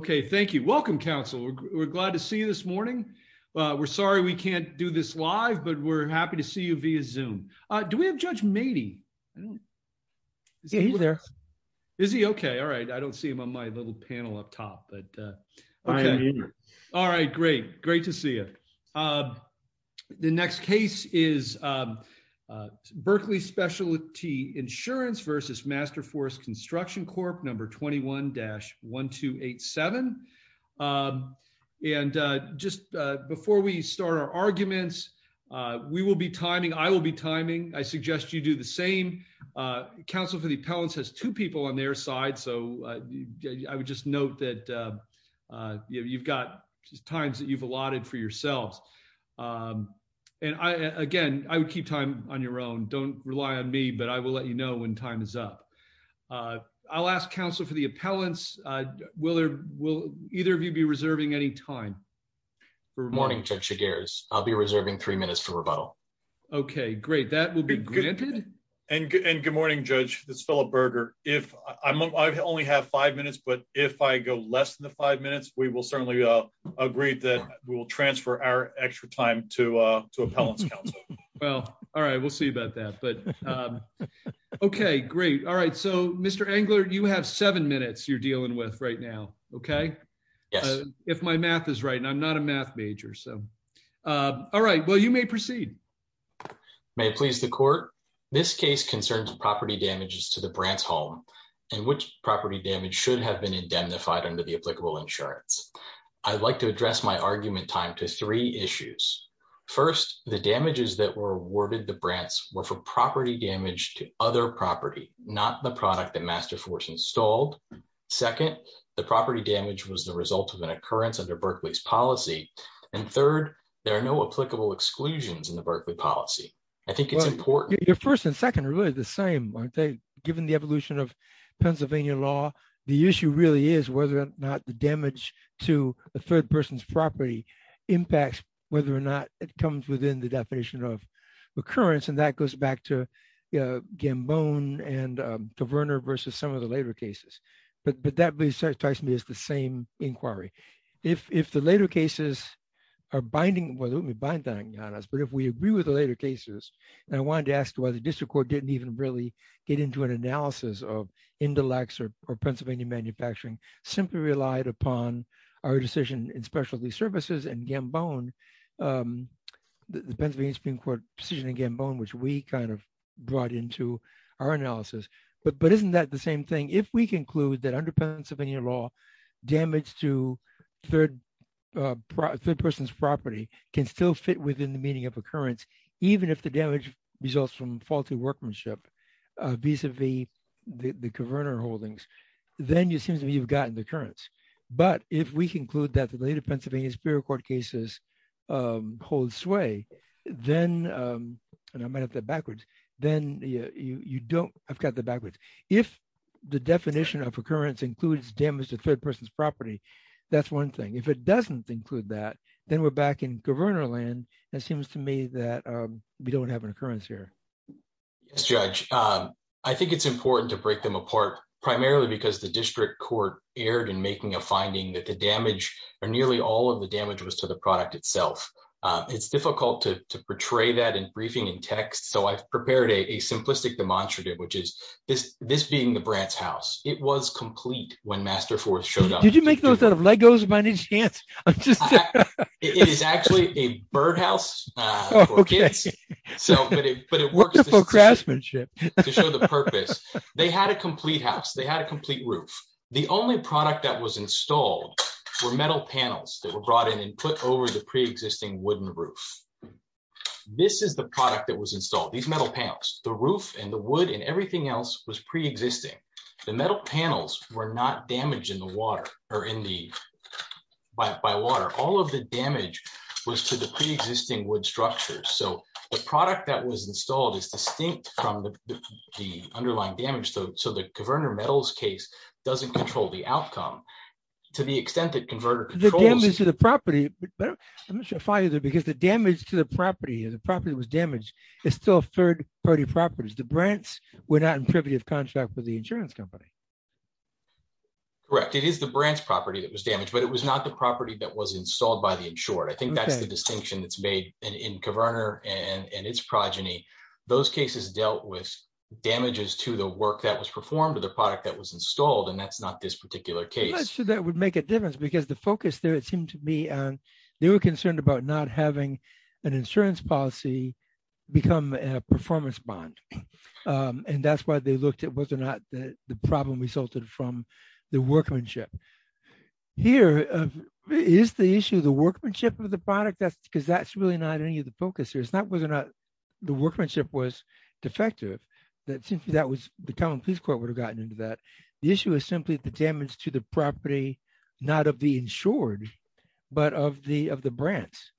Number 21-1287. Okay. Thank you. Welcome Council. We're glad to see you this morning. We're sorry. We can't do this live, but we're happy to see you via zoom. Do we have judge matey? Yeah, he's there. Is he okay. All right. I don't see him on my little panel up top, but. All right. Great. Great to see it. Okay. The next case is. Berkley Specialty Insurance versus Masterforce Construction Corp Number 21-1287. And just before we start our arguments. We will be timing. I will be timing. I suggest you do the same. I will ask counsel for the appellants. To be reserving any time. Counsel for the appellants has two people on their side. So. I would just note that. You've got times that you've allotted for yourselves. And I, again, I would keep time on your own. Don't rely on me, but I will let you know when time is up. I'll ask counsel for the appellants. Will there, will either of you be reserving any time? Good morning. I'll be reserving three minutes for rebuttal. Okay, great. That will be good. And good morning judge. This fellow burger. If I'm only have five minutes, but if I go less than the five minutes, we will certainly agree that we will transfer our extra time to, to appellants council. Okay. Well, all right. We'll see about that, but. Okay, great. All right. So Mr. Angler, you have seven minutes. You're dealing with right now. Okay. If my math is right and I'm not a math major. So. All right. Well, you may proceed. May it please the court. This case concerns property damages to the Brant's home. And which property damage should have been indemnified under the Berkley policy. The first and second are really the same. Given the evolution of Pennsylvania law. The issue really is whether or not the damage. To the third person's property. Impacts. Whether or not it comes within the definition of. And if the number of cases that are binding on us is not just a result of. Occurrence. And that goes back to. Yeah, Gambon and. Turner versus some of the later cases. But that. The same inquiry. If the later cases. Are binding. Well, let me bind on us, but if we agree with the later cases. And I wanted to ask why the district court didn't even really get into an analysis of intellects or. The Pennsylvania Supreme court. Or Pennsylvania manufacturing. Simply relied upon our decision in specialty services and Gambon. The Pennsylvania Supreme court. Again, bone, which we kind of. Brought into our analysis. But, but isn't that the same thing? If we conclude that under Pennsylvania law. Damage to third. Person's property. Can still fit within the meaning of occurrence. Even if the damage. Results from faulty workmanship. These have the. The converter holdings. Then you seem to be, you've gotten the currents. But if we conclude that the later Pennsylvania spirit court cases. Hold sway. Then. And I might have the backwards. Then you don't. I've got the backwards. So I'm wondering if the definition of occurrence includes damage to third person's property. That's one thing. If it doesn't include that. Then we're back in governor land. That seems to me that we don't have an occurrence here. Yes, judge. I think it's important to break them apart. Primarily because the district court aired and making a finding that the first case was the second case. In which case the damage or nearly all of the damage was to the product itself. It's difficult to portray that in briefing and text. So I've prepared a simplistic demonstrative, which is this, this being the brats house. It was complete when master force showed up. Did you make those out of Legos by any chance? It's actually a bird house. Okay. It's a bird house. So, but it, but it works for craftsmanship. To show the purpose. They had a complete house. They had a complete roof. The only product that was installed. For metal panels that were brought in and put over the preexisting wooden roof. This is the product that was installed. These metal panels, the roof and the wood and everything else was preexisting. The metal panels were not damaged in the water or in the. By water. All of the damage was to the preexisting wood structures. So the product that was installed is distinct from the. The underlying damage though. So the converter metals case. Doesn't control the outcome. To the extent that converter. To the property. I'm not sure if I either, because the damage to the property, the property was damaged. It's still a third party properties. The Brents. We're not in privy of contract with the insurance company. Correct. It is the branch property that was damaged, but it was not the property that was installed by the insured. I think that's the distinction that's made in, in governor and its progeny. Those cases dealt with. Damages to the work that was performed to the product that was installed. And that's not this particular case. That would make a difference because the focus there, it seemed to me. They were concerned about not having an insurance policy. Become a performance bond. And that's why they looked at whether or not the problem resulted from the workmanship. Here. Is the issue of the workmanship of the product that's because that's really not any of the focus here. It's not whether or not. The workmanship was defective. That seems to me that was the common peace court would have gotten into that. The issue is simply the damage to the property. Not of the insured. But of the, of the brands.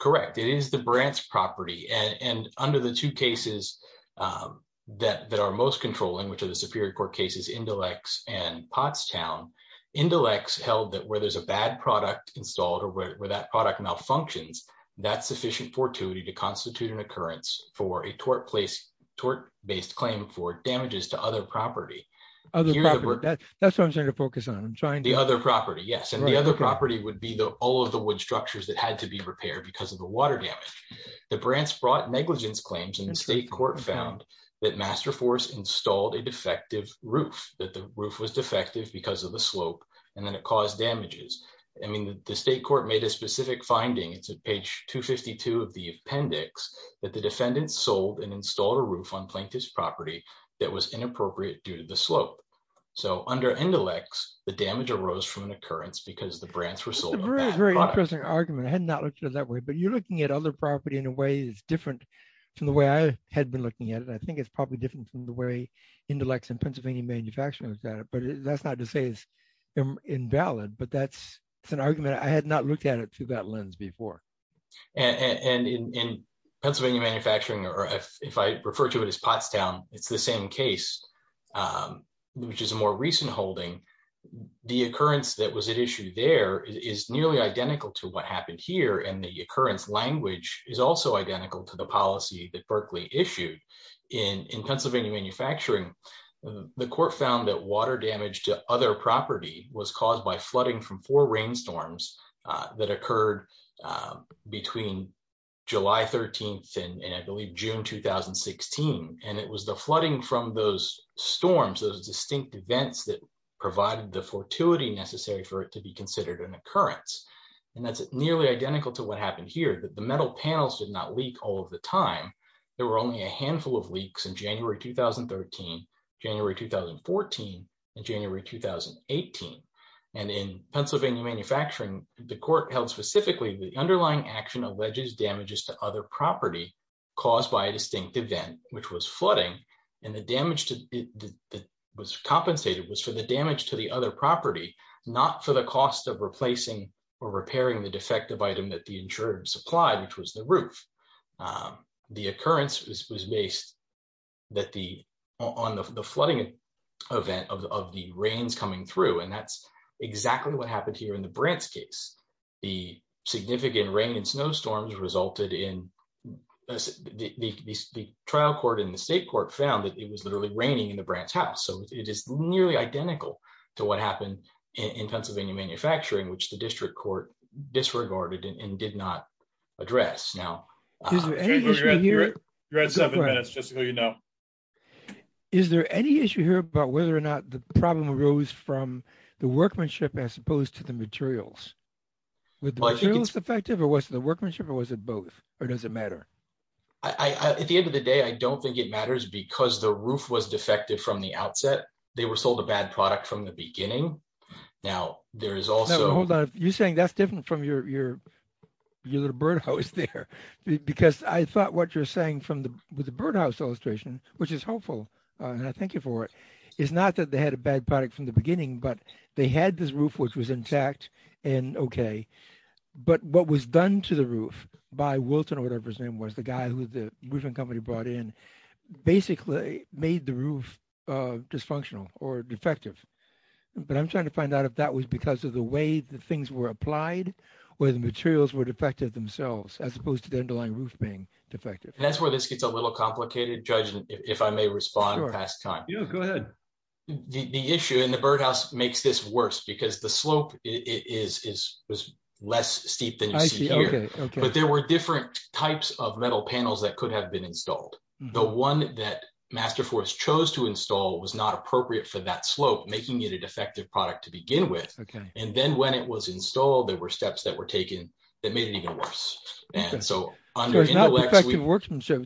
Correct. It is the brands property. It's a property that's a property that's a property that's a property That's a property. And under the two cases that, that are most controlling, which are the superior court cases, Indolex, and Pottstown. Indolex held that where there's a bad product installed or where that product malfunctions. That's sufficient for tuity to constitute an occurrence for a tort place. Tort based claim for damages to other property. That's what I'm trying to focus on. I'm trying to. The other property. Yes. And the other property would be the, all of the wood structures that had to be repaired because of the water damage. The branch brought negligence claims in the state court found that master force installed a defective roof, that the roof was defective because of the slope and then it caused damages. I mean, the state court made a specific finding. It's a page two 52 of the appendix that the defendants sold and installed a roof on plaintiff's property. That was inappropriate due to the slope. So under Indolex, the damage arose from an occurrence because the brands were sold. Very interesting argument. I had not looked at it that way, but you're looking at other property in a way is different. From the way I had been looking at it. I think it's probably different from the way intellects in Pennsylvania manufacturing. But that's not to say it's invalid, but that's. It's an argument. I had not looked at it through that lens before. And in. Pennsylvania manufacturing, or if, if I refer to it as Pottstown, it's the same case. Which is a more recent holding. The occurrence that was at issue there is nearly identical to what happened here. And the occurrence language is also identical to the policy that Berkeley issued. In Pennsylvania manufacturing. The court found that water damage to other property was caused by flooding from four rainstorms. That occurred. Between. July 13th and I believe June, 2016. And it was the flooding from those storms, those distinct events that provided the fortuity necessary for it to be considered an occurrence. And that's nearly identical to what happened here, but the metal panels did not leak all of the time. There were only a handful of leaks in January, 2013. January, 2014. And January, 2018. And in Pennsylvania manufacturing, the court held specifically, the underlying action alleges damages to other property. Caused by a distinct event, which was flooding. And the damage to. Was compensated was for the damage to the other property, not for the cost of replacing or repairing the defective item that the insurance applied, which was the roof. The occurrence was based. That the on the flooding. And in the case of the Brant's case, which is a very significant. Event of the, of the rains coming through. And that's exactly what happened here in the Brant's case. The significant rain and snow storms resulted in. The trial court in the state court found that it was literally raining in the Brant's house. So it is nearly identical to what happened. In Pennsylvania manufacturing, which the district court disregarded and did not. Address now. So. Is there any. You're at seven minutes. Just so you know. Is there any issue here about whether or not the problem arose from the workmanship as opposed to the materials. Was the workmanship or was it both? Or does it matter? I, at the end of the day, I don't think it matters because the roof was defective from the outset. And the problem. I think is that. They were sold a bad product from the beginning. Now there is also. You saying that's different from your, your. You know, the birdhouse there. Because I thought what you're saying from the, with the birdhouse illustration, which is helpful. And I thank you for it. It's not that they had a bad product from the beginning, but they had this roof, which was in fact. The roof was in fact, the roof was in fact a defect and okay. But what was done to the roof. By Wilton or whatever his name was the guy who the roofing company brought in. Basically made the roof. Just functional or defective. But I'm trying to find out if that was because of the way the things were applied, where the materials were defective themselves as opposed to the underlying roof being defective. Yeah. And that's where this gets a little complicated judgment. If I may respond past time. Yeah, go ahead. The issue in the birdhouse makes this worse because the slope is, is, is. Less steep than. Okay. But there were different types of metal panels that could have been installed. The one that master force chose to install was not appropriate for that type of workmanship.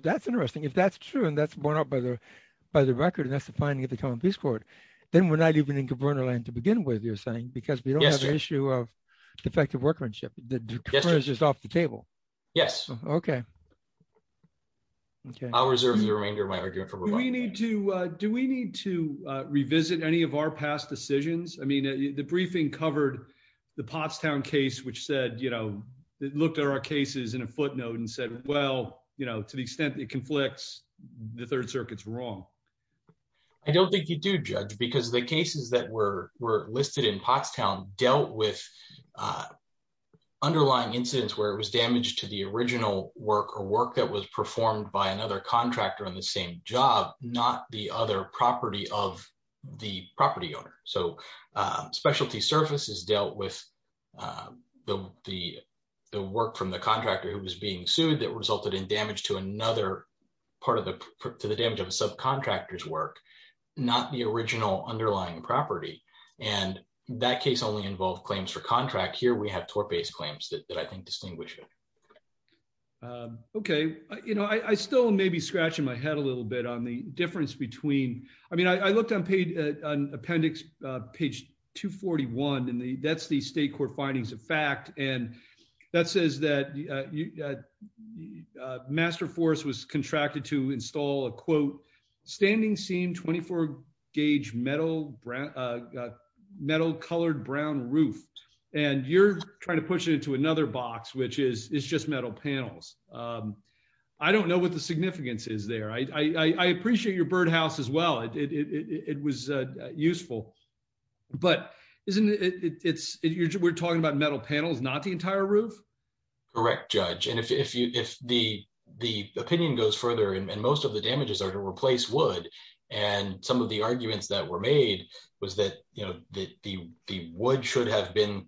That's interesting. If that's true, and that's borne out by the. By the record. And that's the finding of the common peace court. Then we're not even in Cabrera land to begin with. You're saying, because we don't have an issue of. Defective workmanship. Just off the table. Yes. Okay. Okay. Do we need to revisit any of our past decisions? I mean, the briefing covered. I don't think you do judge because the cases that were, were listed in Pottstown dealt with. Underlying incidents where it was damaged to the original work or work that was performed by another contractor on the same job, not the other property of. The property owner. So. I don't think we need to revisit any of our past decisions, but I do think that. Specialty surface is dealt with. The, the, the work from the contractor who was being sued that resulted in damage to another. Part of the. To the damage of a subcontractors work. Not the original underlying property. And that case only involved claims for contract here. We have tort based claims that I think distinguish. Okay. Okay. I, you know, I still may be scratching my head a little bit on the difference between, I mean, I looked on paid. Appendix page two 41 in the that's the state court findings of fact. And that says that. The, the, the, the, the, the, the, the, the, the, the, the, the, the, the master force was contracted to install a quote. Standing seam, 24. Gauge metal. Metal colored Brown roof. And you're trying to push it into another box, which is it's just metal panels. I don't know what the significance is there. I, I appreciate your birdhouse as well. It was a useful. But isn't it's we're talking about metal panels, not the entire roof. Correct judge. And if, if you, if the, the opinion goes further, and most of the damages are to replace wood. And some of the arguments that were made was that, you know, that the, the wood should have been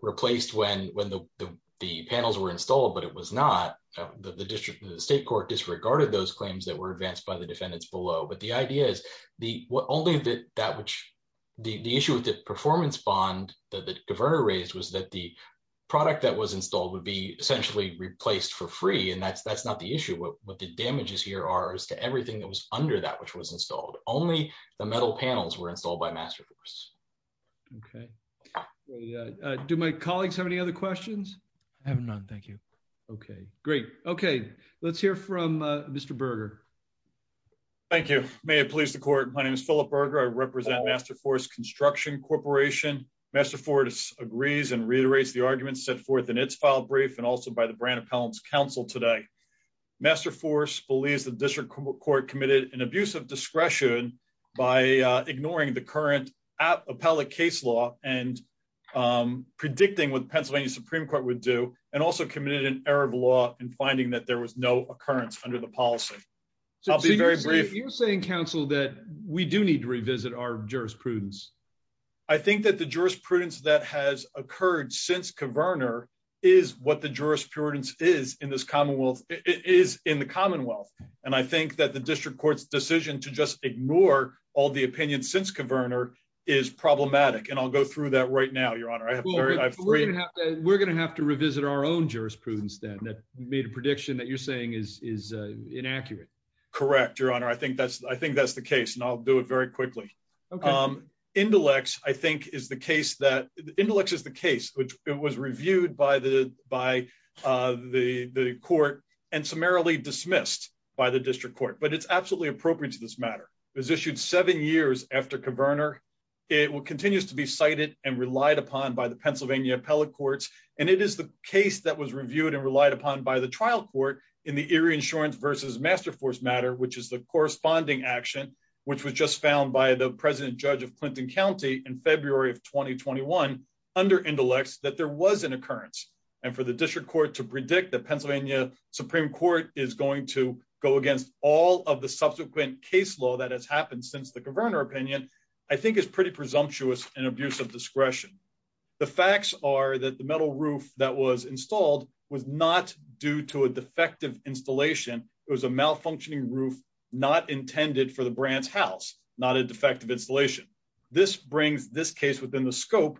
replaced when, when the, the, the panels were installed, but it was not. The district, the state court disregarded those claims that were advanced by the defendants below. But the idea is. The issue with the performance bond. The only that that which. The issue with the performance bond that the governor raised was that the. Product that was installed would be essentially replaced for free. And that's, that's not the issue. What the damages here are as to everything that was under that, which was installed. Only the metal panels were installed by master. Okay. Do my colleagues have any other questions? I have none. Thank you. Okay, great. Okay. Let's hear from Mr. Berger. Thank you. May it please the court. My name is Philip Berger. I represent master force construction corporation. Master for agrees and reiterates the arguments set forth in its file brief, and also by the brand of pounds council today. Master force believes the district court committed an abuse of discretion. By ignoring the current app appellate case law and. Predicting what Pennsylvania Supreme court would do and also committed an error of law and finding that there was no occurrence under the policy. I'll be very brave. You're saying council that we do need to revisit our jurisprudence. I think that the jurisprudence that has occurred since coverner. Is what the jurisprudence is in this commonwealth. It is in the commonwealth. And I think that the district court's decision to just ignore all the opinion since coverner. Is problematic. And I'll go through that right now, your honor. I have. We're going to have to revisit our own jurisprudence then that made a prediction that you're saying is, is inaccurate. Correct. Your honor. I think that's, I think that's the case. And I'll do it very quickly. Indelex I think is the case that the intellect is the case, which it was reviewed by the, by. The court and summarily dismissed by the district court, but it's absolutely appropriate to this matter. It was issued seven years after coverner. It continues to be cited and relied upon by the Pennsylvania appellate courts. And it is the case that was reviewed and relied upon by the trial court in the area insurance versus master force matter, which is the corresponding action. Which was just found by the president judge of Clinton County in February of 2021. Under intellects that there was an occurrence. And for the district court to predict the Pennsylvania supreme court is going to go against all of the subsequent case law that has happened since the governor opinion. I think is pretty presumptuous and abuse of discretion. The facts are that the metal roof that was installed was not due to a defective installation. It was a malfunctioning roof. Not intended for the brand's house, not a defective installation. This brings this case within the scope.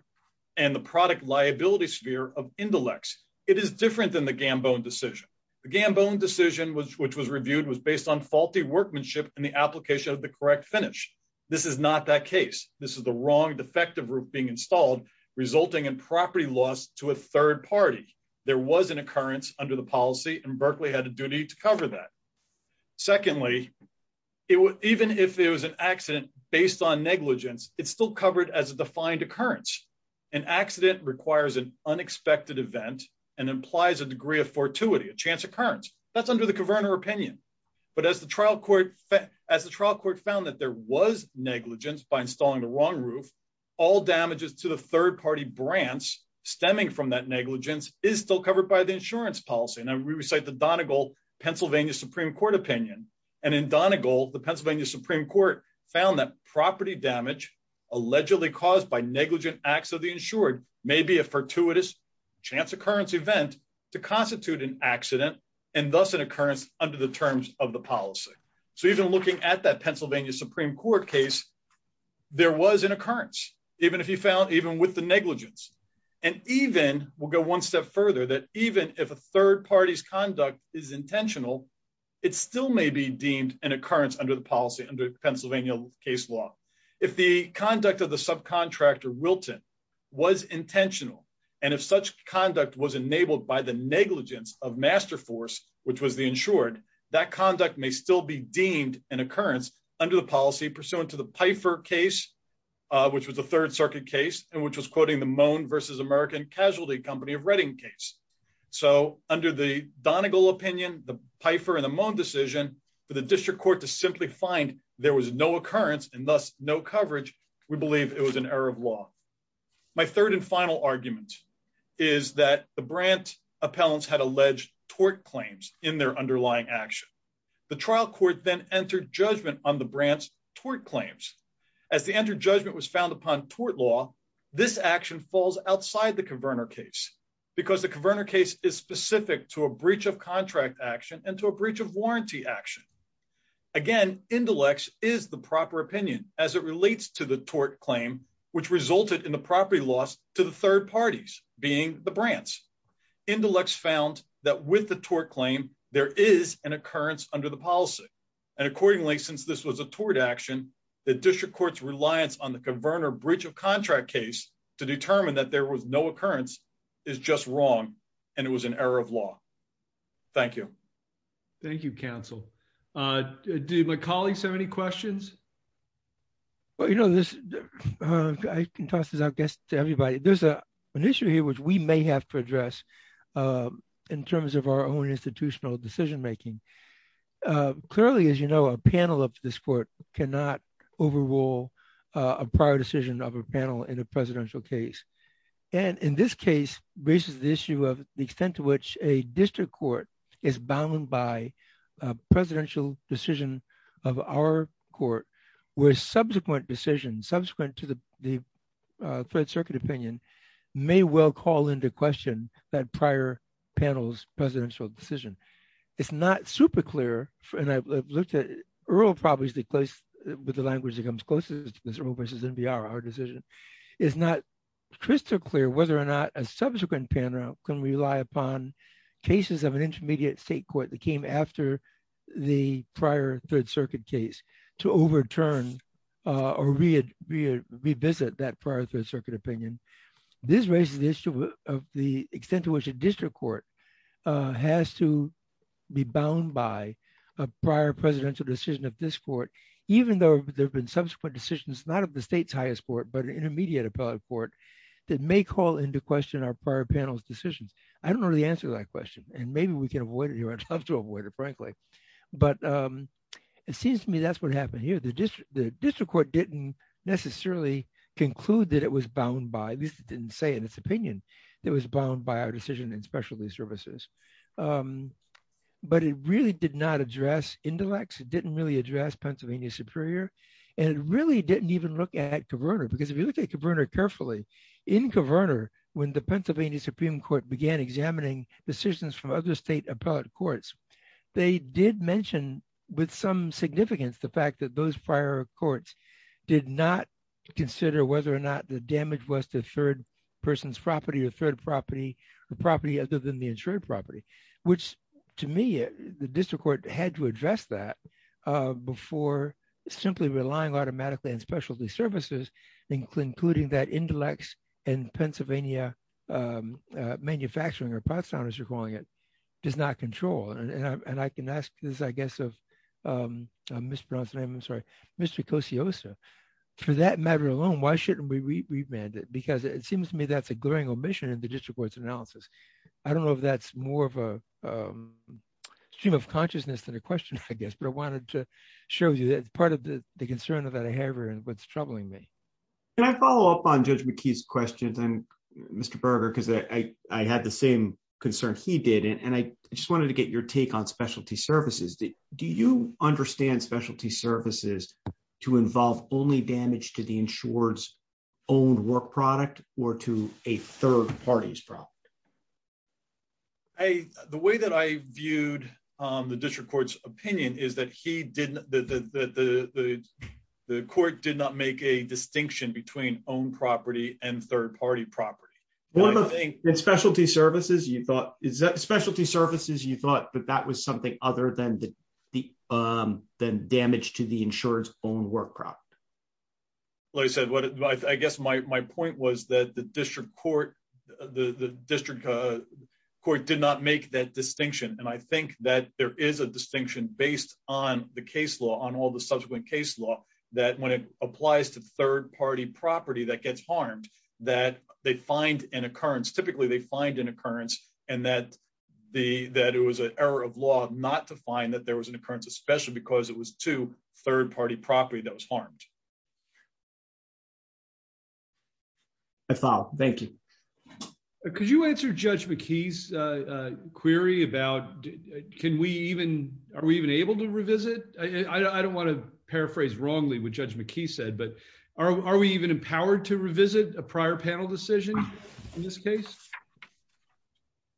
And the product liability sphere of intellects. It is different than the Gambon decision. The Gambon decision was, which was reviewed and was based on faulty workmanship and the application of the correct finish. This is not that case. This is the wrong defective route being installed resulting in property loss to a third party. There was an occurrence under the policy and Berkeley had a duty to cover that. Secondly. It would, even if it was an accident based on negligence, it's still covered as a defined occurrence. An accident requires an unexpected event and implies a degree of fortuity, a chance occurrence that's under the governor opinion. But as the trial court. As the trial court found that there was negligence by installing the wrong roof. All damages to the third party brands. Stemming from that negligence is still covered by the insurance policy. And I re recite the Donald goal, Pennsylvania, Supreme court opinion. And in Donna gold, the Pennsylvania Supreme court. Found that property damage. Allegedly caused by negligent acts of the insured. Maybe a fortuitous chance occurrence event. To constitute an accident. And thus an occurrence under the terms of the policy. So even looking at that Pennsylvania Supreme court case. There was an occurrence, even if you found, even with the negligence. And even we'll go one step further that even if a third party's conduct is intentional. It's still may be deemed an occurrence under the policy under Pennsylvania case law. If the conduct of the subcontractor Wilton. Was intentional. And if such conduct was enabled by the negligence of master force, which was the insured that conduct may still be deemed an occurrence under the policy pursuant to the Piper case. Which was the third circuit case and which was quoting the moan versus American casualty company of reading case. So under the Donald goal opinion, the Piper and the moan decision. For the district court to simply find there was no occurrence and thus no coverage. We believe it was an error of law. My third and final argument. Is that the brand appellants had alleged tort claims in their underlying action. The trial court then entered judgment on the brands. Tort claims. As the entered judgment was found upon tort law. This action falls outside the converter case. Because the converter case is specific to a breach of contract action and to a breach of warranty action. Again, intellects is the proper opinion as it relates to the tort claim, which resulted in the property loss to the third parties being the brands. Intellects found that with the tort claim, there is an occurrence under the policy. And accordingly, since this was a tort action, the district court's reliance on the converter breach of contract case to determine that there was no occurrence. Is just wrong. And it was an error of law. Thank you. Thank you counsel. Do my colleagues have any questions? Well, you know, this. I can toss this, I guess, to everybody. There's an issue here, which we may have to address. In terms of our own institutional decision-making. Clearly, as you know, a panel of this court. Cannot overrule. A prior decision of a panel in a presidential case. And in this case. The issue of the extent to which a district court is bound by a presidential decision. Of our court. We're subsequent decisions subsequent to the. Third circuit opinion. May well call into question that prior panels, presidential decision. It's not super clear. And I've looked at. Earl probably is the place. With the language that comes closest. I'm not sure. I'm not sure. It's not crystal clear. Whether or not a subsequent panel. Can we rely upon. Cases of an intermediate state court that came after the prior third circuit case. To overturn. Or read. Revisit that prior to the circuit opinion. This raises the issue of the extent to which a district court. Has to be bound by. A prior presidential decision of this court. Even though there've been subsequent decisions, not of the state's highest court, but an intermediate appellate court. That may call into question our prior panels decisions. I don't know the answer to that question. And maybe we can avoid it here. I'd love to avoid it, frankly. But. It seems to me that's what happened here. The district. The district court didn't necessarily. Conclude that it was bound by this. Didn't say in its opinion. It was bound by our decision in specialty services. But it really did not address intellects. It didn't really address Pennsylvania superior. And it really didn't even look at governor, because if you look at governor carefully in governor, when the Pennsylvania Supreme court began examining decisions from other state appellate courts. They did mention with some significance, the fact that those prior courts. Did not consider whether or not the damage was to third. Person's property or third property. And they did not consider whether or not the damage was to the property. Property other than the insured property. Which to me. The district court had to address that. Before. Simply relying automatically on specialty services. Including that intellects. And Pennsylvania. Manufacturing or pot sound as you're calling it. Does not control. And I can ask this, I guess. I don't know if that's more of a stream of consciousness than a question. I guess, but I wanted to show you that part of the, the concern of that. And what's troubling me. And I follow up on judge McKee's questions and Mr. Berger. I had the same concern he did. And I just wanted to get your take on specialty services. Do you understand specialty services? To involve only damage to the insureds. Owned work product or to a third party's problem. Hey, the way that I viewed. The district court's opinion is that he didn't, the, the, the. The court did not make a distinction between own property and third party property. I don't think. I think that specialty services you thought is that specialty services you thought, but that was something other than the. Then damaged to the insurance. Owned work product. Well, I said what. I guess my point was that the district court. The district. Court did not make that distinction. And I think that there is a distinction based on the case law, on all the subsequent case law. That when it applies to third party property that gets harmed. That they find an occurrence. Typically they find an occurrence. And that. The, that it was an error of law, not to find that there was an occurrence, especially because it was to third party property that was harmed. I thought, thank you. Thank you. Could you answer judge McKee's query about. Can we even, are we even able to revisit? I don't want to paraphrase wrongly with judge McKee said, but are we even empowered to revisit a prior panel decision? In this case.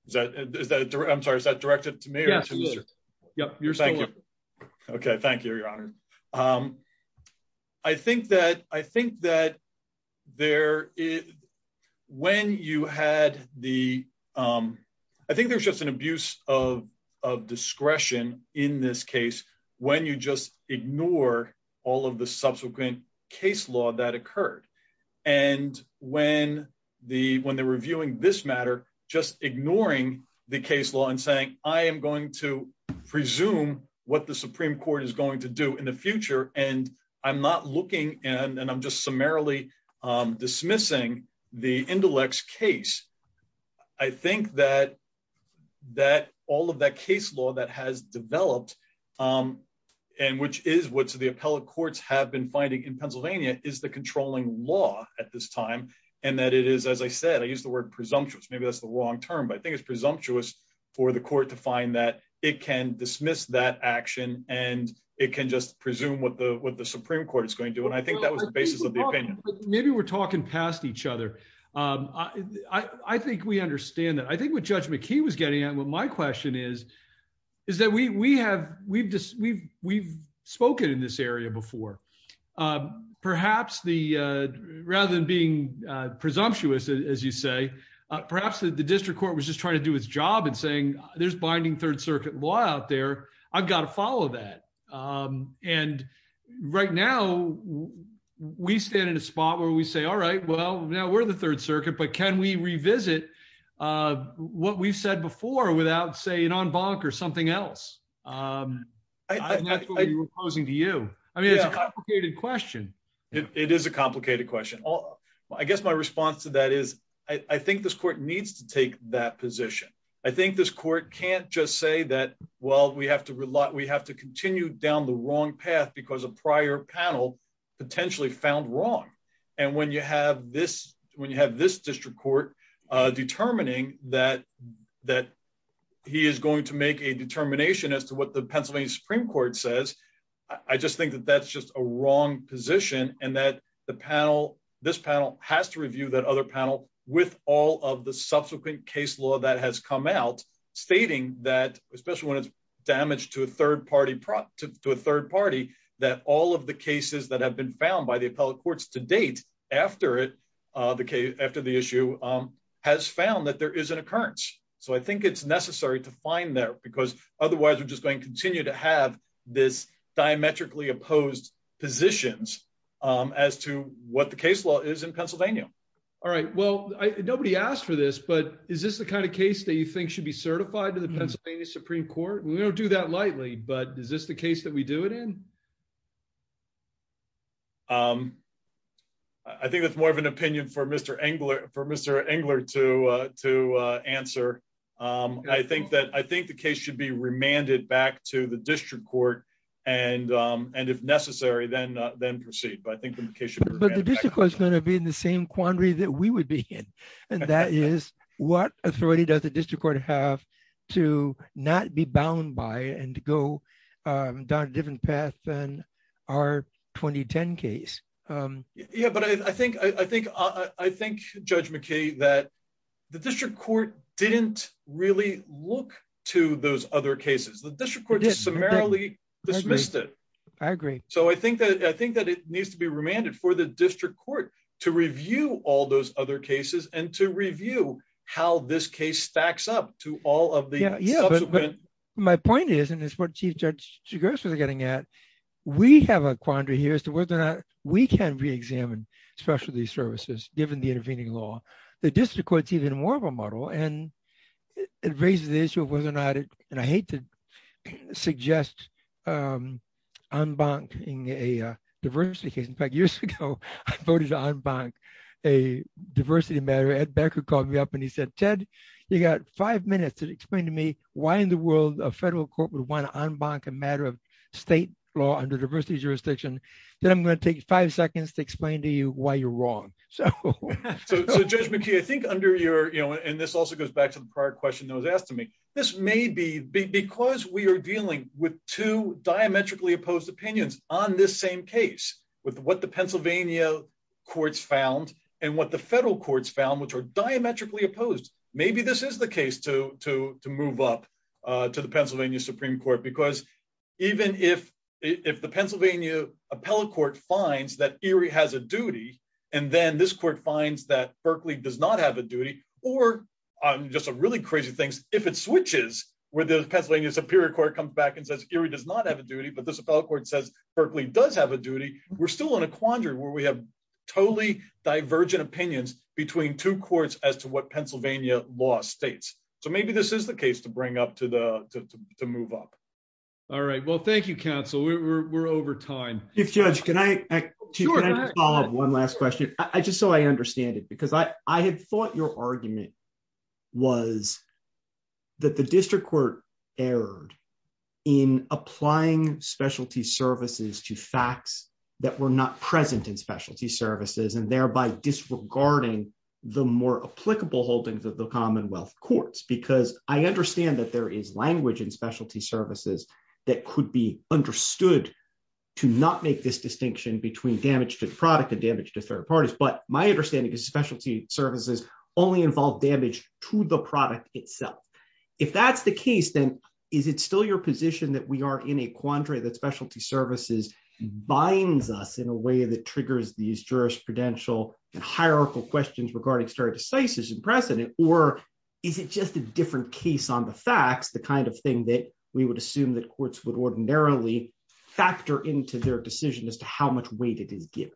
Is that, is that. I'm sorry. Is that directed to me? Yep. Okay. Thank you, your honor. Thank you. Thank you, your honor. I think that, I think that. There is. When you had the. I think there's just an abuse of, of discretion in this case when you just ignore all of the subsequent case law that occurred. And when the, when the reviewing this matter, just ignoring the case law and saying, I am going to presume what the Supreme court is going to do in the future. And I'm not looking. And I'm just summarily dismissing the intellects case. I think that. That all of that case law that has developed. And which is what's the appellate courts have been finding in this case. I think it's presumptuous. I think it's presumptuous for the court to find that it can dismiss that action. And it can just presume what the, what the Supreme court is going to, and I think that was the basis of the opinion. Maybe we're talking past each other. I think we understand that. I think what judge McKee was getting at. What my question is. Is that we, we have, we've just, we've, we've spoken in this area before. Perhaps the rather than being presumptuous, as you say, Perhaps the district court was just trying to do its job and saying there's binding third circuit law out there. I've got to follow that. And right now. We stand in a spot where we say, all right, well, now we're the third circuit, but can we revisit. Can we revisit what we've said before without saying on bonk or something else? I'm posing to you. I mean, it's a complicated question. It is a complicated question. I guess my response to that is I think this court needs to take that position. I think this court can't just say that, well, we have to rely. We have to continue down the wrong path because of prior panel. Potentially found wrong. And when you have this, when you have this district court, determining that. That. He is going to make a determination as to what the Pennsylvania Supreme court says. I just think that that's just a wrong position and that the panel, this panel has to review that other panel with all of the subsequent case law that has come out. Stating that, especially when it's damaged to a third party. To a third party, that all of the cases that have been found by the appellate courts to be. In Pennsylvania. And the state after it. The K after the issue. Has found that there is an occurrence. So I think it's necessary to find there because otherwise we're just going to continue to have this. Diametrically opposed. Positions. As to what the case law is in Pennsylvania. All right. Well, I, nobody asked for this, but is this the kind of case that you think should be certified to the Pennsylvania Supreme court? We don't do that lightly, but is this the case that we do it in? I think that's more of an opinion for Mr. Engler for Mr. Engler to, to answer. I think that, I think the case should be remanded back to the district court. And, and if necessary, then, then proceed. But I think the case. Is going to be in the same quandary that we would be in. And that is what authority does the district court have. To not be bound by and to go. Down a different path than our 2010 case. Yeah, but I think, I think, I think judge McKay, that. The district court. Didn't really look to those other cases. The district court. I agree. So I think that, I think that it needs to be remanded for the district court. To review all those other cases and to review. How this case stacks up to all of the. Yeah. My point is, and it's what chief judge. We have a quandary here as to whether or not we can be examined. Especially these services, given the intervening law. The district court, even more of a model and. It raises the issue of whether or not it, and I hate to. Suggest. I'm going to take five seconds to explain to you why you're wrong. So. I'm bonked in a diversity case. In fact, years ago. I voted on bank. A diversity matter at Becker called me up and he said, Ted. You got five minutes to explain to me why in the world of federal corporate one on bank, a matter of state law under diversity jurisdiction. Then I'm going to take five seconds to explain to you why you're wrong. So. So judge McKee, I think under your, you know, and this also goes back to the prior question that was asked to me. This may be big because we are dealing with two diametrically opposed opinions on this same case. With what the Pennsylvania. Courts found and what the federal courts found, which are diametrically opposed. Maybe this is the case to, to, to move up. To the Pennsylvania Supreme court, because. I think the question is, is that if we have a case where the Pennsylvania Supreme court is saying, even if it's a case that the Pennsylvania Supreme court is saying, even if the Pennsylvania appellate court finds that Erie has a duty. And then this court finds that Berkeley does not have a duty. Or I'm just a really crazy things. If it switches with the Pennsylvania superior court comes back and says, Erie does not have a duty, but this appellate court says, Berkeley does have a duty. We're still in a quandary where we have. We have. A totally divergent opinions between two courts as to what Pennsylvania law States. So maybe this is the case to bring up to the, to, to move up. All right. Well, thank you, counsel. We're we're over time. If judge, can I. Sure. One last question. I just, so I understand it because I, I had thought your argument. Was. That the district court. Error. In applying specialty services to facts. That were not present in specialty services and thereby disregarding. The more applicable holdings of the Commonwealth courts, because I understand that there is language in specialty services. That could be understood. To not make this distinction between damage to the product and damage to third parties. But my understanding is specialty services. Only involve damage to the product itself. If that's the case, then is it still your position that we are in a quandary that specialty services. Binds us in a way that triggers these jurisprudential and hierarchical questions regarding stare decisis and precedent, or is it just a different case on the facts, the kind of thing that we would assume that courts would ordinarily factor into their decision as to how much weight it is given.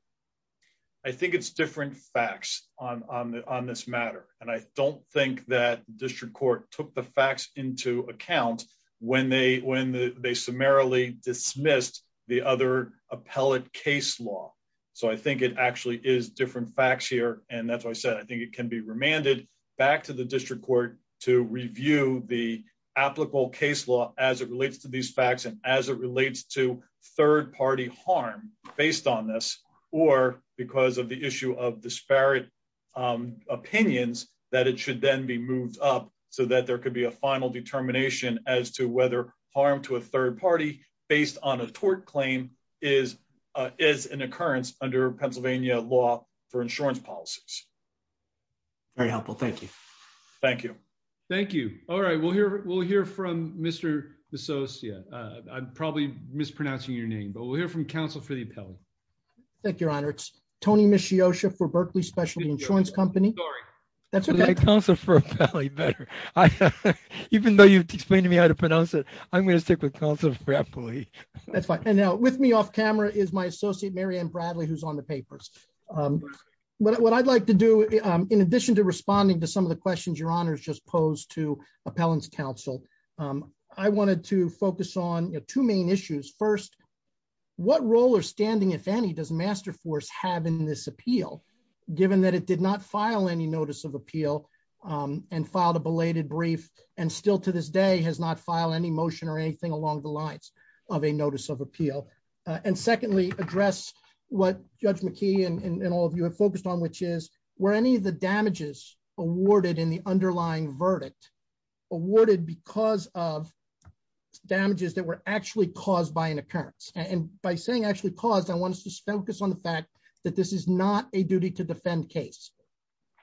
I think it's different facts on, on the, on this matter. And I don't think that district court took the facts into account when they, when they summarily dismissed the other appellate case law. So I think it actually is different facts here. And that's why I said, I think it can be remanded. Back to the district court to review the applicable case law as it relates to these facts. And as it relates to third party harm based on this, Or because of the issue of disparate opinions that it should then be moved up so that there could be a final determination as to whether harm to a third party based on a tort claim is, is an occurrence under Pennsylvania law for insurance policies. Very helpful. Thank you. Thank you. Thank you. All right. Well, here, we'll hear from Mr. Yeah, I'm probably mispronouncing your name, but we'll hear from counsel for the pill. Thank you, Your Honor. It's Tony Mishiosha for Berkeley specialty insurance company. That's okay. Even though you've explained to me how to pronounce it, I'm going to stick with counsel for happily. That's fine. And now with me off camera is my associate, Mary Ann Bradley, who's on the papers. But what I'd like to do in addition to responding to some of the questions your honors just posed to appellants council. I wanted to focus on two main issues. First, what role or standing if any does master force have in this appeal, given that it did not file any notice of appeal and filed a belated brief. And still to this day has not filed any motion or anything along the lines of a notice of appeal. And secondly address what judge McKee and all of you have focused on, which is where any of the damages awarded in the underlying verdict awarded because of damages that were actually caused by an occurrence and by saying actually caused, I want us to focus on the fact that this is not a duty to defend case.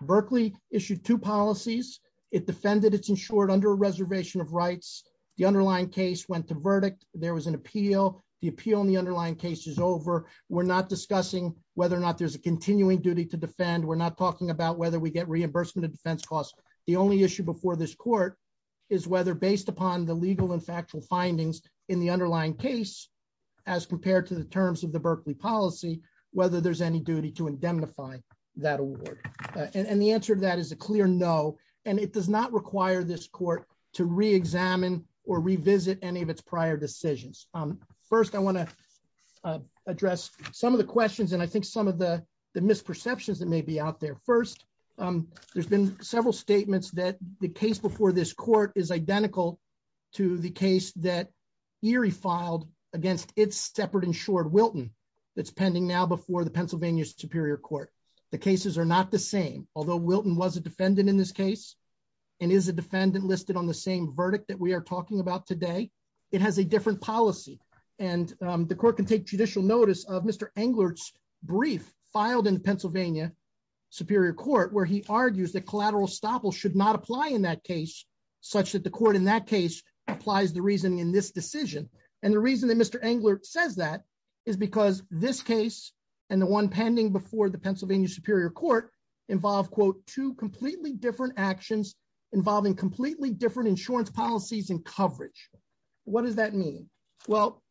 Berkeley issued two policies. It defended it's insured under a reservation of rights. The underlying case went to verdict. There was an appeal. The appeal in the underlying case is over. We're not discussing whether or not there's a continuing duty to defend. We're not talking about whether we get reimbursement of defense costs. The only issue before this court is whether based upon the legal and factual findings in the underlying case, as compared to the terms of the Berkeley policy, whether there's any duty to indemnify that award. And the answer to that is a clear no, and it does not require this court to re-examine or revisit any of its prior decisions. First I want to address some of the questions and I think some of the, the misperceptions that may be out there first. There's been several statements that the case before this court is that Erie filed against it's separate insured Wilton. That's pending now before the Pennsylvania superior court, the cases are not the same. Although Wilton was a defendant in this case and is a defendant listed on the same verdict that we are talking about today. It has a different policy and the court can take judicial notice of Mr. Englert's brief filed in Pennsylvania superior court, where he argues that collateral stopple should not apply in that case such that the court in that case applies the reasoning in this decision. And the reason that Mr. Englert says that is because this case and the one pending before the Pennsylvania superior court involve quote, two completely different actions involving completely different insurance policies and coverage. What does that mean? Well,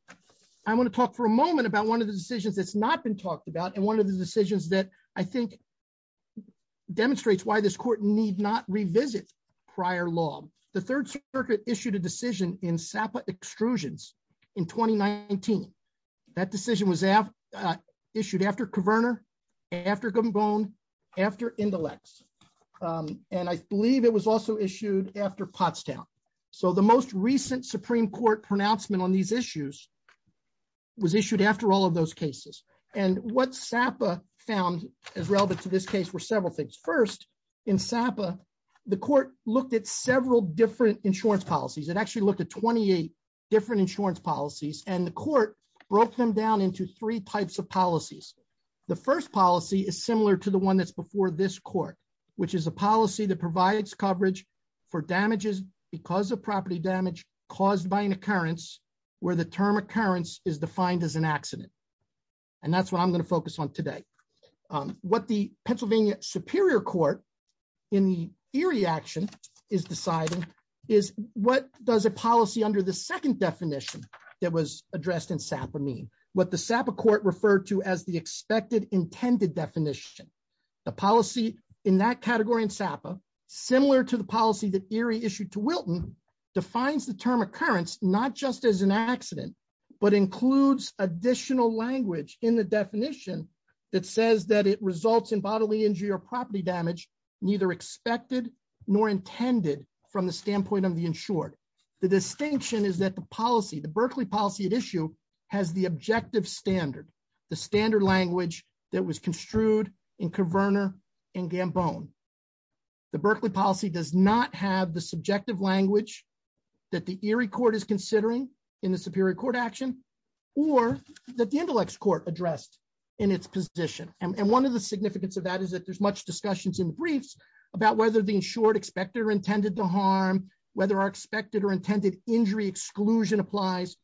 I want to talk for a moment about one of the decisions that's not been talked about. And one of the decisions that I think Demonstrates why this court need not revisit prior law. The third circuit issued a decision in Sapa extrusions in 2019. That decision was issued after coverner after gum bone after intellects. And I believe it was also issued after Pottstown. So the most recent Supreme court pronouncement on these issues was issued after all of those cases. And what Sapa found as relevant to this case were several things. First in Sapa, the court looked at several different insurance policies. It actually looked at 28 different insurance policies and the court broke them down into three types of policies. The first policy is similar to the one that's before this court, which is a policy that provides coverage for damages because of property damage caused by an occurrence where the term occurrence is defined as an accident. And that's what I'm going to focus on today. What the Pennsylvania superior court in the Erie action is deciding is what does a policy under the second definition that was addressed in Sapa mean what the Sapa court referred to as the expected intended definition, the policy in that category in Sapa, similar to the policy that Erie issued to Wilton defines the term occurrence, not just as an accident, but includes additional language in the definition that says that it results in bodily injury or property damage, neither expected nor intended from the standpoint of the insured. The distinction is that the policy, the Berkeley policy at issue has the objective standard, the standard language that was construed in Coverner and Gambone. The Berkeley policy does not have the subjective language that the Erie court is considering in the superior court action or that the intellects court addressed in its position. And one of the significance of that is that there's much discussions in the briefs about whether the insured expected or intended to harm, whether our expected or intended injury exclusion applies.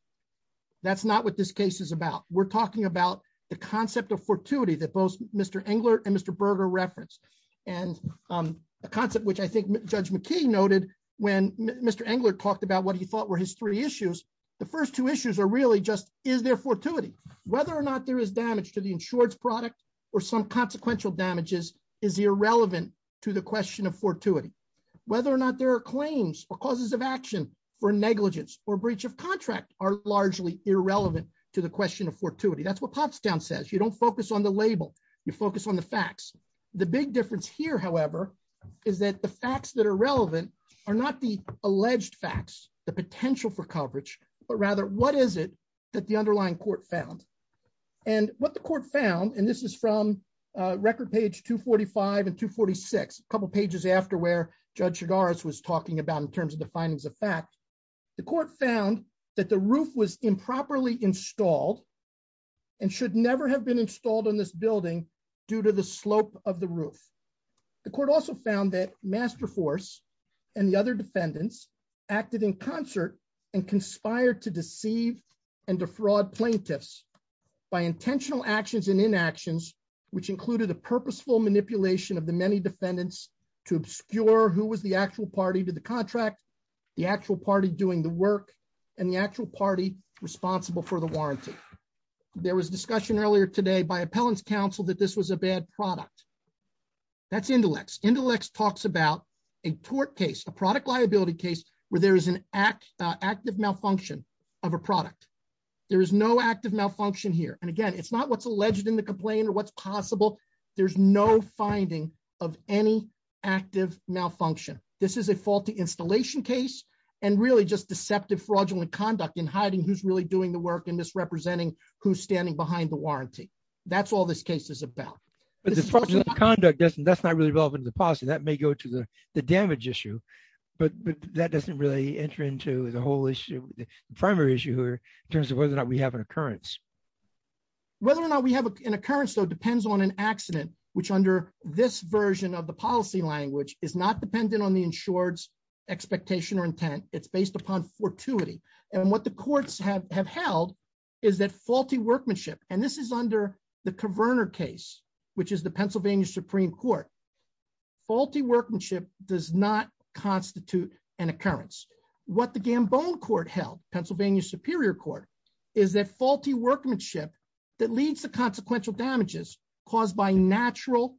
That's not what this case is about. We're talking about the concept of fortuity that both Mr. Engler and Mr. Berger referenced and a concept which I think judge McKee noted when Mr. Engler talked about what he thought were his three issues. The first two issues are really just, is there fortuity, whether or not there is damage to the insurance product or some consequential damages is irrelevant to the question of fortuity, whether or not there are claims or causes of action for negligence or breach of contract are largely irrelevant to the question of fortuity. That's what Pops down says. You don't focus on the label. You focus on the facts. The big difference here, however, is that the facts that are relevant are not the alleged facts, the potential for coverage, but rather what is it that the underlying court found and what the court found. And this is from a record page two 45 and two 46, a couple of pages after where judge cigars was talking about in terms of the findings of fact, the court found that the roof was improperly installed and should never have been installed on this building due to the slope of the roof. The court also found that master force and the other defendants acted in concert and conspired to deceive and defraud plaintiffs by intentional actions and inactions, which included a purposeful manipulation of the many defendants to obscure who was the actual party to the contract, the actual party doing the work and the actual party responsible for the warranty. There was discussion earlier today by appellants council that this was a bad product. That's intellects intellects talks about a tort case, a product liability case where there is an act active malfunction of a product. There is no active malfunction here. And again, it's not what's alleged in the complaint or what's possible. There's no finding of any active malfunction. This is a faulty installation case and really just deceptive fraudulent conduct in hiding. Who's really doing the work and misrepresenting who's standing behind the conduct. That's not really relevant to the policy that may go to the damage issue, but that doesn't really enter into the whole issue. The primary issue here in terms of whether or not we have an occurrence, whether or not we have an occurrence. So it depends on an accident, which under this version of the policy language is not dependent on the insured's expectation or intent. It's based upon fortuity. And what the courts have have held is that faulty workmanship. And this is under the coverner case, which is the Pennsylvania Supreme court faulty workmanship does not constitute an occurrence. What the Gambone court held, Pennsylvania superior court is that faulty workmanship that leads to consequential damages caused by natural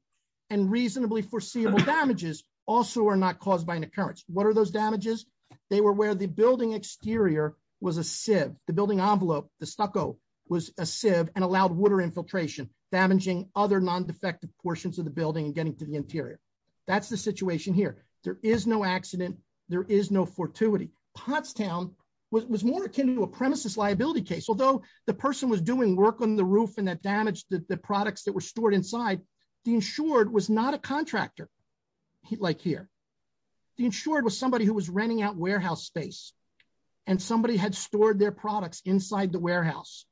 and reasonably foreseeable damages also are not caused by an occurrence. What are those damages? They were where the building exterior was a sieve, the building envelope, the stucco was a sieve and allowed water infiltration, damaging other non-defective portions of the building and getting to the interior. That's the situation here. There is no accident. There is no fortuity. Pottstown was more akin to a premises liability case. Although the person was doing work on the roof and that damaged the products that were stored inside the insured was not a contractor. He'd like here. The insured was somebody who was renting out warehouse space and somebody had stored their products inside the warehouse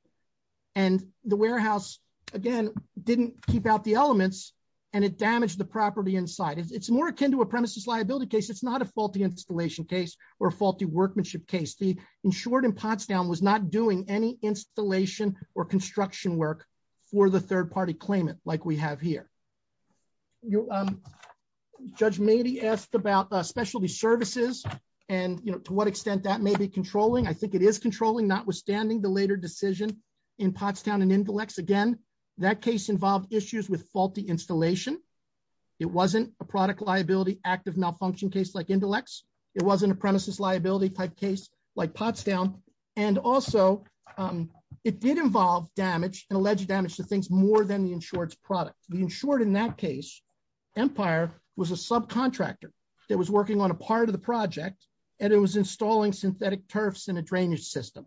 and the warehouse again, didn't keep out the elements and it damaged the property inside. It's more akin to a premises liability case. It's not a faulty installation case or faulty workmanship case. The insured in Pottstown was not doing any installation or construction work for the third party claimant. Like we have here. Judge Mady asked about specialty services and to what extent that may be controlling. I think it is controlling, not withstanding the later decision in Pottstown and intellects. Again, that case involved issues with faulty installation. It wasn't a product liability, active malfunction case like intellects. It wasn't a premises liability type case like Pottstown. And also, it did involve damage and alleged damage to things more than the insured product. The insured in that case, Empire was a subcontractor that was working on a part of the project and it was installing synthetic turfs in a drainage system.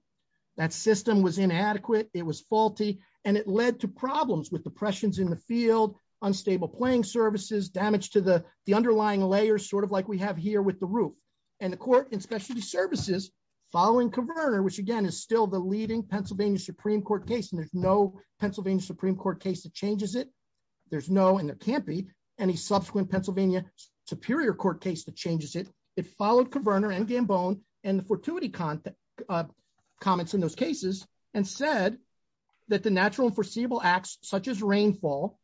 That system was inadequate. It was faulty. And it led to problems with depressions in the field, unstable playing services, damage to the, the underlying layers sort of like we have here with the roof and the court and specialty services following converter, which again, is still the leading Pennsylvania Supreme court case. And there's no Pennsylvania Supreme court case that changes it. There's no, and there can't be any subsequent Pennsylvania superior court case that In those cases, we followed coverner and gambone and the fortuity content. Comments in those cases and said. That the natural foreseeable acts such as rainfall.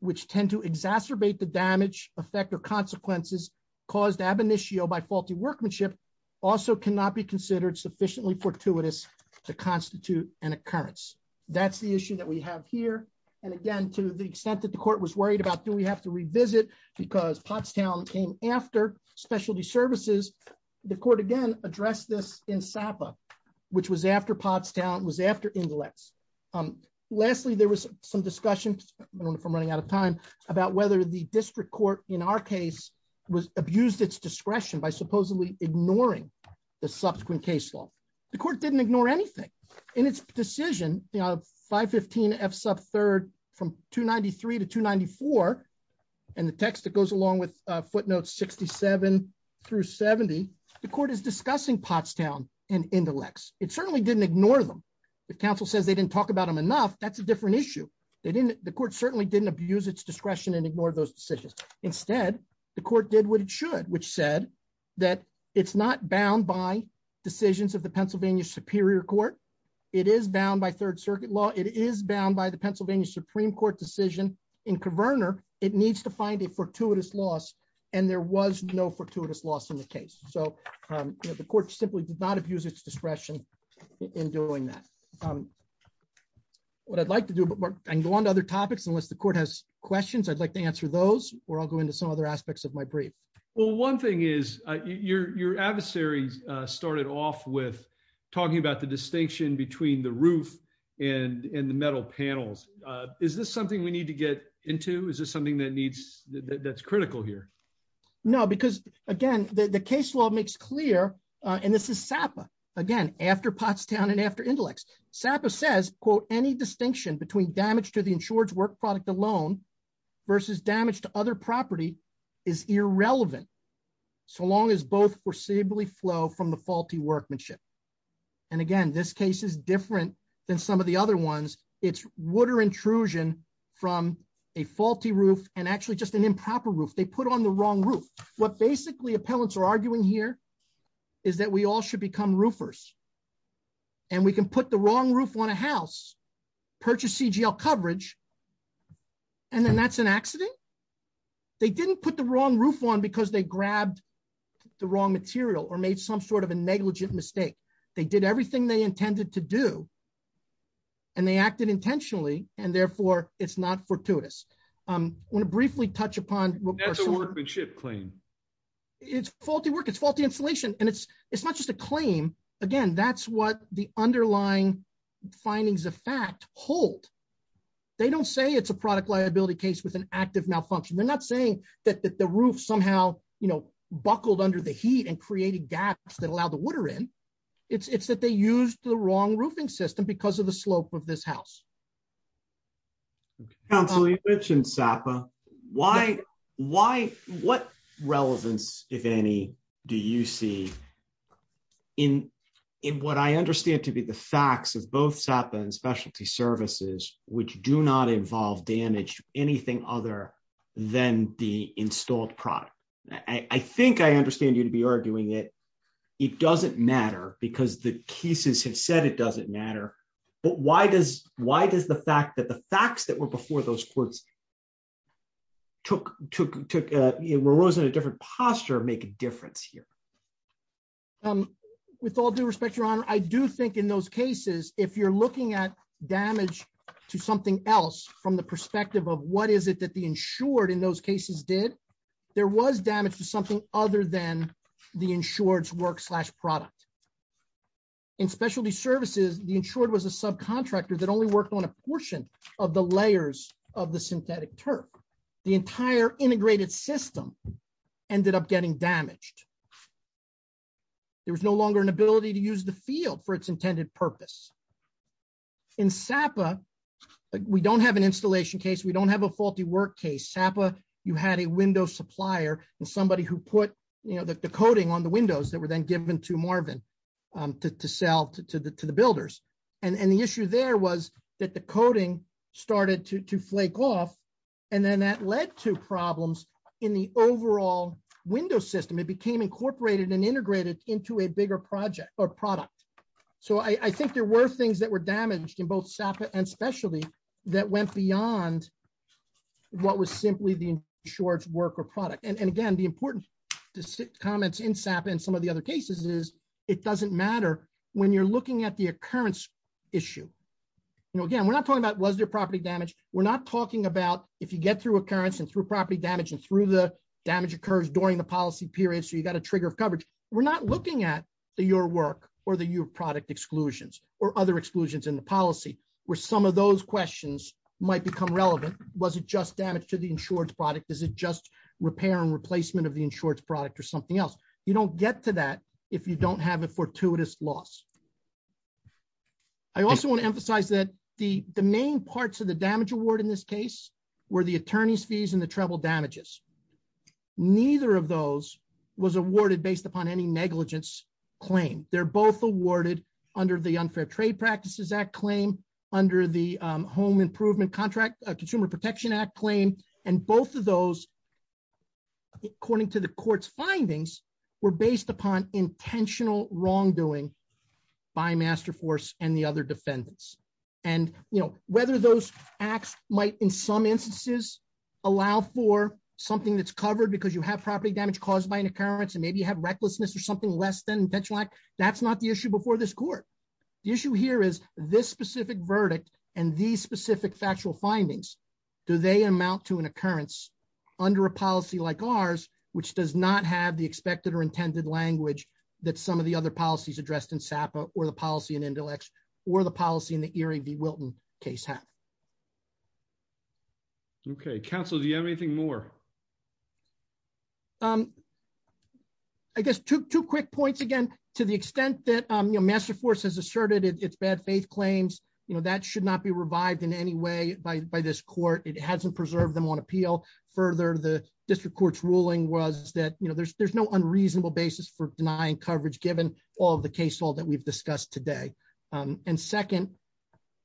Which tend to exacerbate the damage effect or consequences. Cause ab initio by faulty workmanship. Also cannot be considered sufficiently fortuitous. To constitute an occurrence. That's the issue that we have here. And again, to the extent that the court was worried about, do we have to revisit? Because Pottstown came after specialty services. The court again, address this in Sapa. Which was after Pottstown was after intellects. Lastly, there was some discussion. I don't know if I'm running out of time about whether the district court in our case. Was abused its discretion by supposedly ignoring. The subsequent case law. The court didn't ignore anything. In its decision. And in the case of 515 F sub third. From 2 93 to 2 94. And the text that goes along with a footnote 67. Through 70. The court is discussing Pottstown. And intellects. It certainly didn't ignore them. The council says they didn't talk about them enough. That's a different issue. They didn't. The court certainly didn't abuse its discretion and ignore those decisions. Instead, the court did what it should, which said. It's not bound by decisions of the Pennsylvania superior court. It is bound by third circuit law. It is bound by the Pennsylvania Supreme court decision. In converter. It needs to find a fortuitous loss. And there was no fortuitous loss in the case. So. The court simply did not abuse its discretion. In doing that. What I'd like to do. I can go on to other topics unless the court has questions. I'd like to answer those. Or I'll go into some other aspects of my brief. Well, one thing is your, your adversaries. Started off with. Talking about the distinction between the roof. And in the metal panels. Is this something we need to get into? Is this something that needs. That's critical here. No, because again, the case law makes clear. And this is SAPA again, after Pottstown and after intellects. And SAPA says, quote, any distinction between damage to the insured. Work product alone. Versus damage to other property. Is irrelevant. So long as both foreseeably flow from the faulty workmanship. And again, this case is different than some of the other ones. It's water intrusion. From a faulty roof and actually just an improper roof. They put on the wrong roof. What basically appellants are arguing here. Is that we all should become roofers. And we can put the wrong roof on a house. Purchase CGL coverage. And then that's an accident. They didn't put the wrong roof on because they grabbed. The wrong material or made some sort of a negligent mistake. They did everything they intended to do. And they acted intentionally and therefore it's not fortuitous. I'm going to briefly touch upon. I'm going to briefly touch upon. It's faulty work. It's faulty insulation. And it's, it's not just a claim. Again, that's what the underlying. Findings of fact hold. They don't say it's a product liability case with an active malfunction. They're not saying that, that the roof somehow. You know, Buckled under the heat and creating gaps that allow the water in. It's it's that they use the wrong roofing system because of the slope of this house. Okay. So I just want to add that. Council. You mentioned SAPA. Why. Why what relevance if any? Do you see. In. In what I understand to be the facts of both SAPA and specialty services, which do not involve damage. Anything other than the installed product. I think I understand you to be arguing it. It doesn't matter because the cases have said it doesn't matter. But why does, why does the fact that the facts that were before those courts. Took, took, took, it arose in a different posture, make a difference here. With all due respect, your honor. I do think in those cases, if you're looking at damage. To something else from the perspective of what is it that the insured in those cases did. There was damage to something other than the insured work slash product. In specialty services. The insured was a subcontractor that only worked on a portion of the layers of the synthetic turf. The entire integrated system. Ended up getting damaged. There was no longer an ability to use the field for its intended purpose. In SAPA. We don't have an installation case. We don't have a faulty work case SAPA. You had a window supplier and somebody who put, you know, the coding on the windows that were then given to Marvin. To sell to the, to the builders. And the issue there was that the coding started to flake off. And then that led to problems in the overall window system. It became incorporated and integrated into a bigger project or product. So I think there were things that were damaged in both SAPA and specialty. That went beyond. What was simply the short work or product. And again, the important to sit comments in SAPA and some of the other cases is it doesn't matter when you're looking at the occurrence. Issue. No, again, we're not talking about was there property damage. We're not talking about if you get through occurrence and through property damage and through the damage occurs during the policy period. So you've got a trigger of coverage. We're not looking at the, your work or the, your product exclusions or other exclusions in the policy. This is an example of a damage that is not. Relevant to a property. For some of those questions might become relevant. Was it just damaged to the insurance product? Is it just repair and replacement of the insurance product or something else? You don't get to that. If you don't have it fortuitous loss. I also want to emphasize that the, the main parts of the damage award in this case. Where the attorney's fees and the treble damages. Neither of those. Was awarded based upon any negligence claim. They're both awarded under the unfair trade practices act claim. Under the home improvement contract, a consumer protection act claim. And both of those. According to the court's findings. We're based upon intentional wrongdoing. By master force and the other defendants. And, you know, whether those acts might in some instances. Allow for something that's covered because you have property damage caused by an occurrence and maybe you have recklessness or something less than that. That's not the issue before this court. The issue here is this specific verdict and these specific factual findings. Do they amount to an occurrence? Under a policy like ours, which does not have the expected or intended language that some of the other policies addressed in SAPA or the policy in intellect. Or the policy in the Erie V. Wilton case. Okay. Counsel, do you have anything more? I guess two quick points again, to the extent that, you know, master force has asserted it. It's bad faith claims. You know, that should not be revived in any way by, by this court. It hasn't preserved them on appeal further. The district court's ruling was that, you know, there's, There's no unreasonable basis for denying coverage, given all of the case hall that we've discussed today. And second,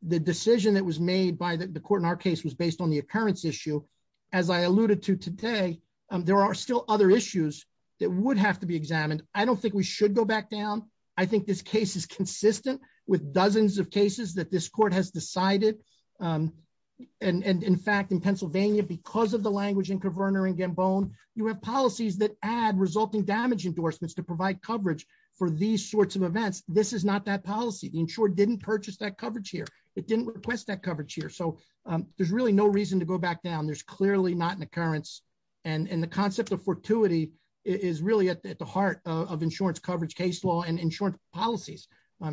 The decision that was made by the court in our case was based on the occurrence issue. As I alluded to today, There are still other issues that would have to be examined. I don't think we should go back down. I think this case is consistent with dozens of cases that this court has decided. And in fact, in Pennsylvania, because of the language. You have policies that add resulting damage endorsements to provide coverage for these sorts of events. This is not that policy. The insured didn't purchase that coverage here. It didn't request that coverage here. So there's really no reason to go back down. There's clearly not an occurrence. And the concept of fortuity is really at the, at the heart of insurance coverage case law and insurance policies.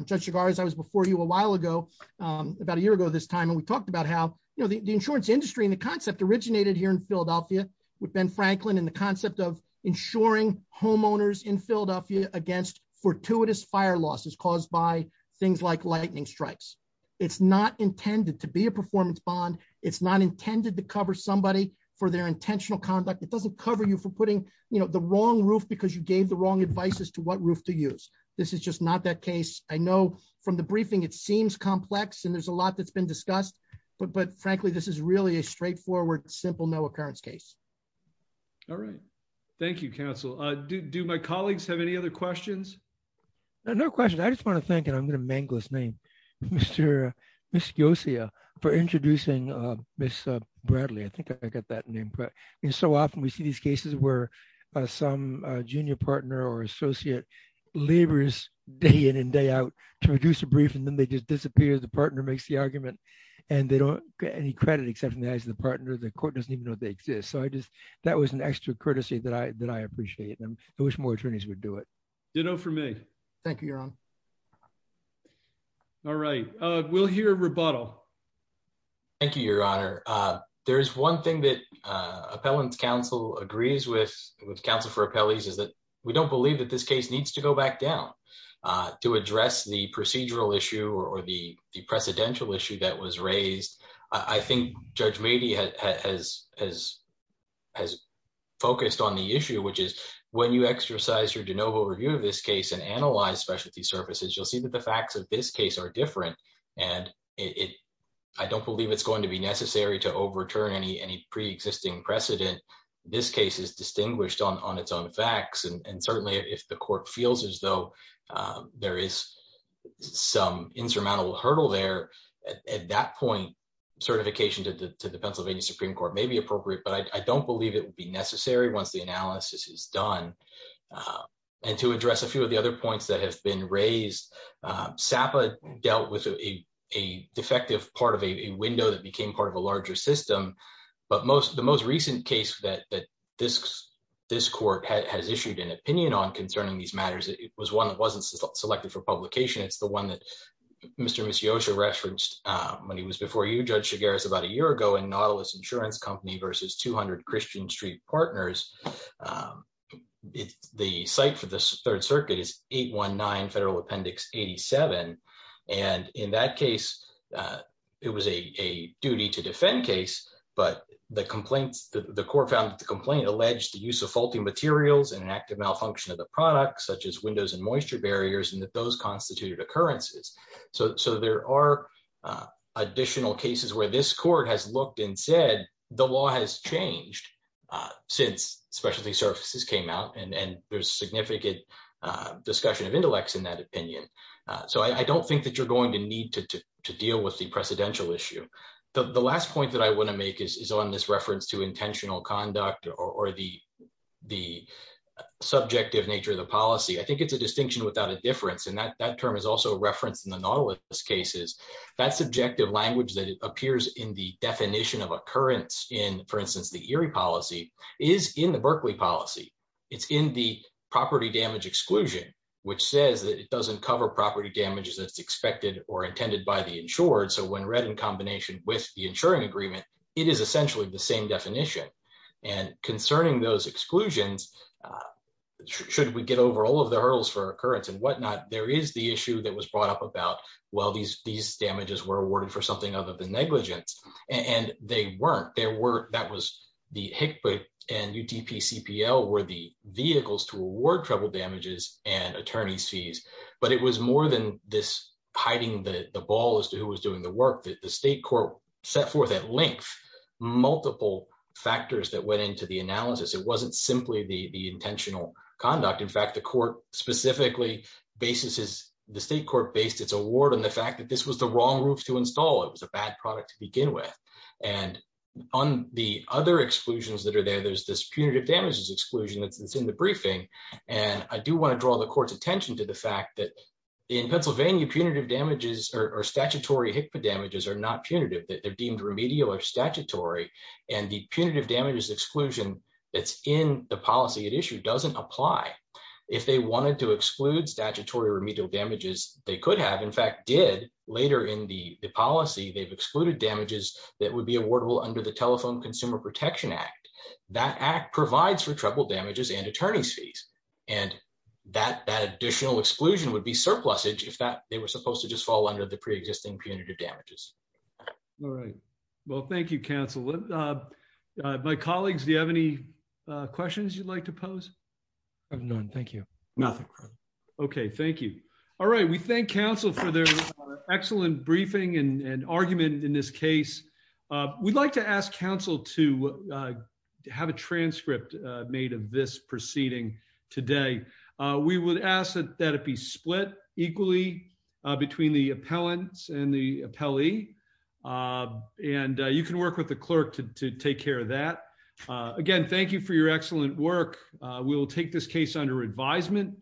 Judge cigars. I was before you a while ago. About a year ago this time. And we talked about how. The insurance industry and the concept originated here in Philadelphia. With Ben Franklin and the concept of ensuring homeowners in Philadelphia against fortuitous fire losses caused by things like lightning strikes. It's not intended to be a performance bond. It's not intended to cover somebody for their intentional conduct. It doesn't cover you for putting the wrong roof because you gave the wrong advice as to what roof to use. This is just not that case. I know from the briefing, it seems complex. And there's a lot that's been discussed. But, but frankly, this is really a straightforward, simple no occurrence case. All right. Thank you counsel. Do, do my colleagues have any other questions? No question. I just want to thank him. I'm going to mangle his name. Mr. Ms. For introducing Ms. Bradley. I think I got that name. And so often we see these cases where. Some junior partner or associate. Laborers day in and day out. And they don't get any credit except from the eyes of the partner. The court doesn't even know they exist. So I just, that was an extra courtesy that I, that I appreciate them. I wish more attorneys would do it. You know, for me. Thank you, your honor. All right. We'll hear rebuttal. Thank you, your honor. There's one thing that. Appellants council agrees with. With counsel for appellees is that we don't believe that this case needs to go back down. To address the procedural issue or the, the precedential issue that was raised. I think judge maybe has, has, has. Has focused on the issue, which is. When you exercise your de novo review of this case and analyze specialty services, you'll see that the facts of this case are different. And it. I don't believe it's going to be necessary to overturn any, any preexisting precedent. This case is distinguished on, on its own facts. And certainly if the court feels as though. There is. Some insurmountable hurdle there. At that point. Certification to the, to the Pennsylvania Supreme court may be appropriate, but I don't believe it would be necessary once the analysis is done. And to address a few of the other points that have been raised. SAPA dealt with. A defective part of a window that became part of a larger system. And it was a defective part of a larger system. But most of the most recent case that, that. This court has issued an opinion on concerning these matters. It was one that wasn't selected for publication. It's the one that. Mr. Mr. When he was before you judge cigar is about a year ago and Nautilus insurance company versus 200 Christian street partners. It's the site for this third circuit is eight one nine federal appendix 87. And in that case, it was a, a duty to defend case. But the complaints that the court found that the complaint alleged the use of faulty materials and an active malfunction of the products, such as windows and moisture barriers, and that those constituted occurrences. So, so there are. Additional cases where this court has looked and said the law has changed. Since specialty services came out and, and there's significant discussion of intellects in that opinion. So I don't think that you're going to need to, to deal with the precedential issue. The last point that I want to make is, is on this reference to intentional conduct or the, the. Subjective nature of the policy. I think it's a distinction without a difference in that, that term is also referenced in the Nautilus cases. That's subjective language that appears in the definition of occurrence in, for instance, the Erie policy is in the Berkeley policy. It's in the property damage exclusion. Which says that it doesn't cover property damages that's expected or intended by the insured. So when read in combination with the insuring agreement, it is essentially the same definition. And concerning those exclusions. Should we get over all of the hurdles for occurrence and whatnot? There is the issue that was brought up about, well, these, these damages were awarded for something other than negligence. And they weren't, there were, that was the Hickman and UTP CPL were the vehicles to the, to the, to the, to the, to the, to the, to the, there was a very clear distinction between the award, trouble damages and attorney's fees. But it was more than this hiding that the ball as to who was doing the work that the state court. Set forth at length. Multiple factors that went into the analysis. It wasn't simply the, the intentional conduct. In fact, the court specifically. Basis is the state court based its award on the fact that this was the wrong roof to install. It was a bad product to begin with. And on the other exclusions that are there, there's this punitive damages exclusion that's it's in the briefing. And I do want to draw the court's attention to the fact that. In Pennsylvania punitive damages or statutory HICPA damages are not punitive that they're deemed remedial or statutory. And the punitive damages exclusion. That's in the policy at issue doesn't apply. If they wanted to exclude statutory remedial damages, they could have, they could have done that. And in fact, the state court in fact did later in the policy, they've excluded damages. That would be awardable under the telephone consumer protection act. That act provides for trouble damages and attorney's fees. And that, that additional exclusion would be surplus age if that they were supposed to just fall under the preexisting punitive damages. All right. Well, thank you counsel. My colleagues, do you have any questions you'd like to pose? None. Thank you. Nothing. Okay. Thank you. All right. We thank counsel for their. Excellent briefing and argument in this case. We'd like to ask counsel to. To have a transcript made of this proceeding. Today. We would ask that it be split equally. Between the appellants and the appellee. And you can work with the clerk to, to take care of that. Thank you. Thank you. Again, thank you for your excellent work. We'll take this case under advisement.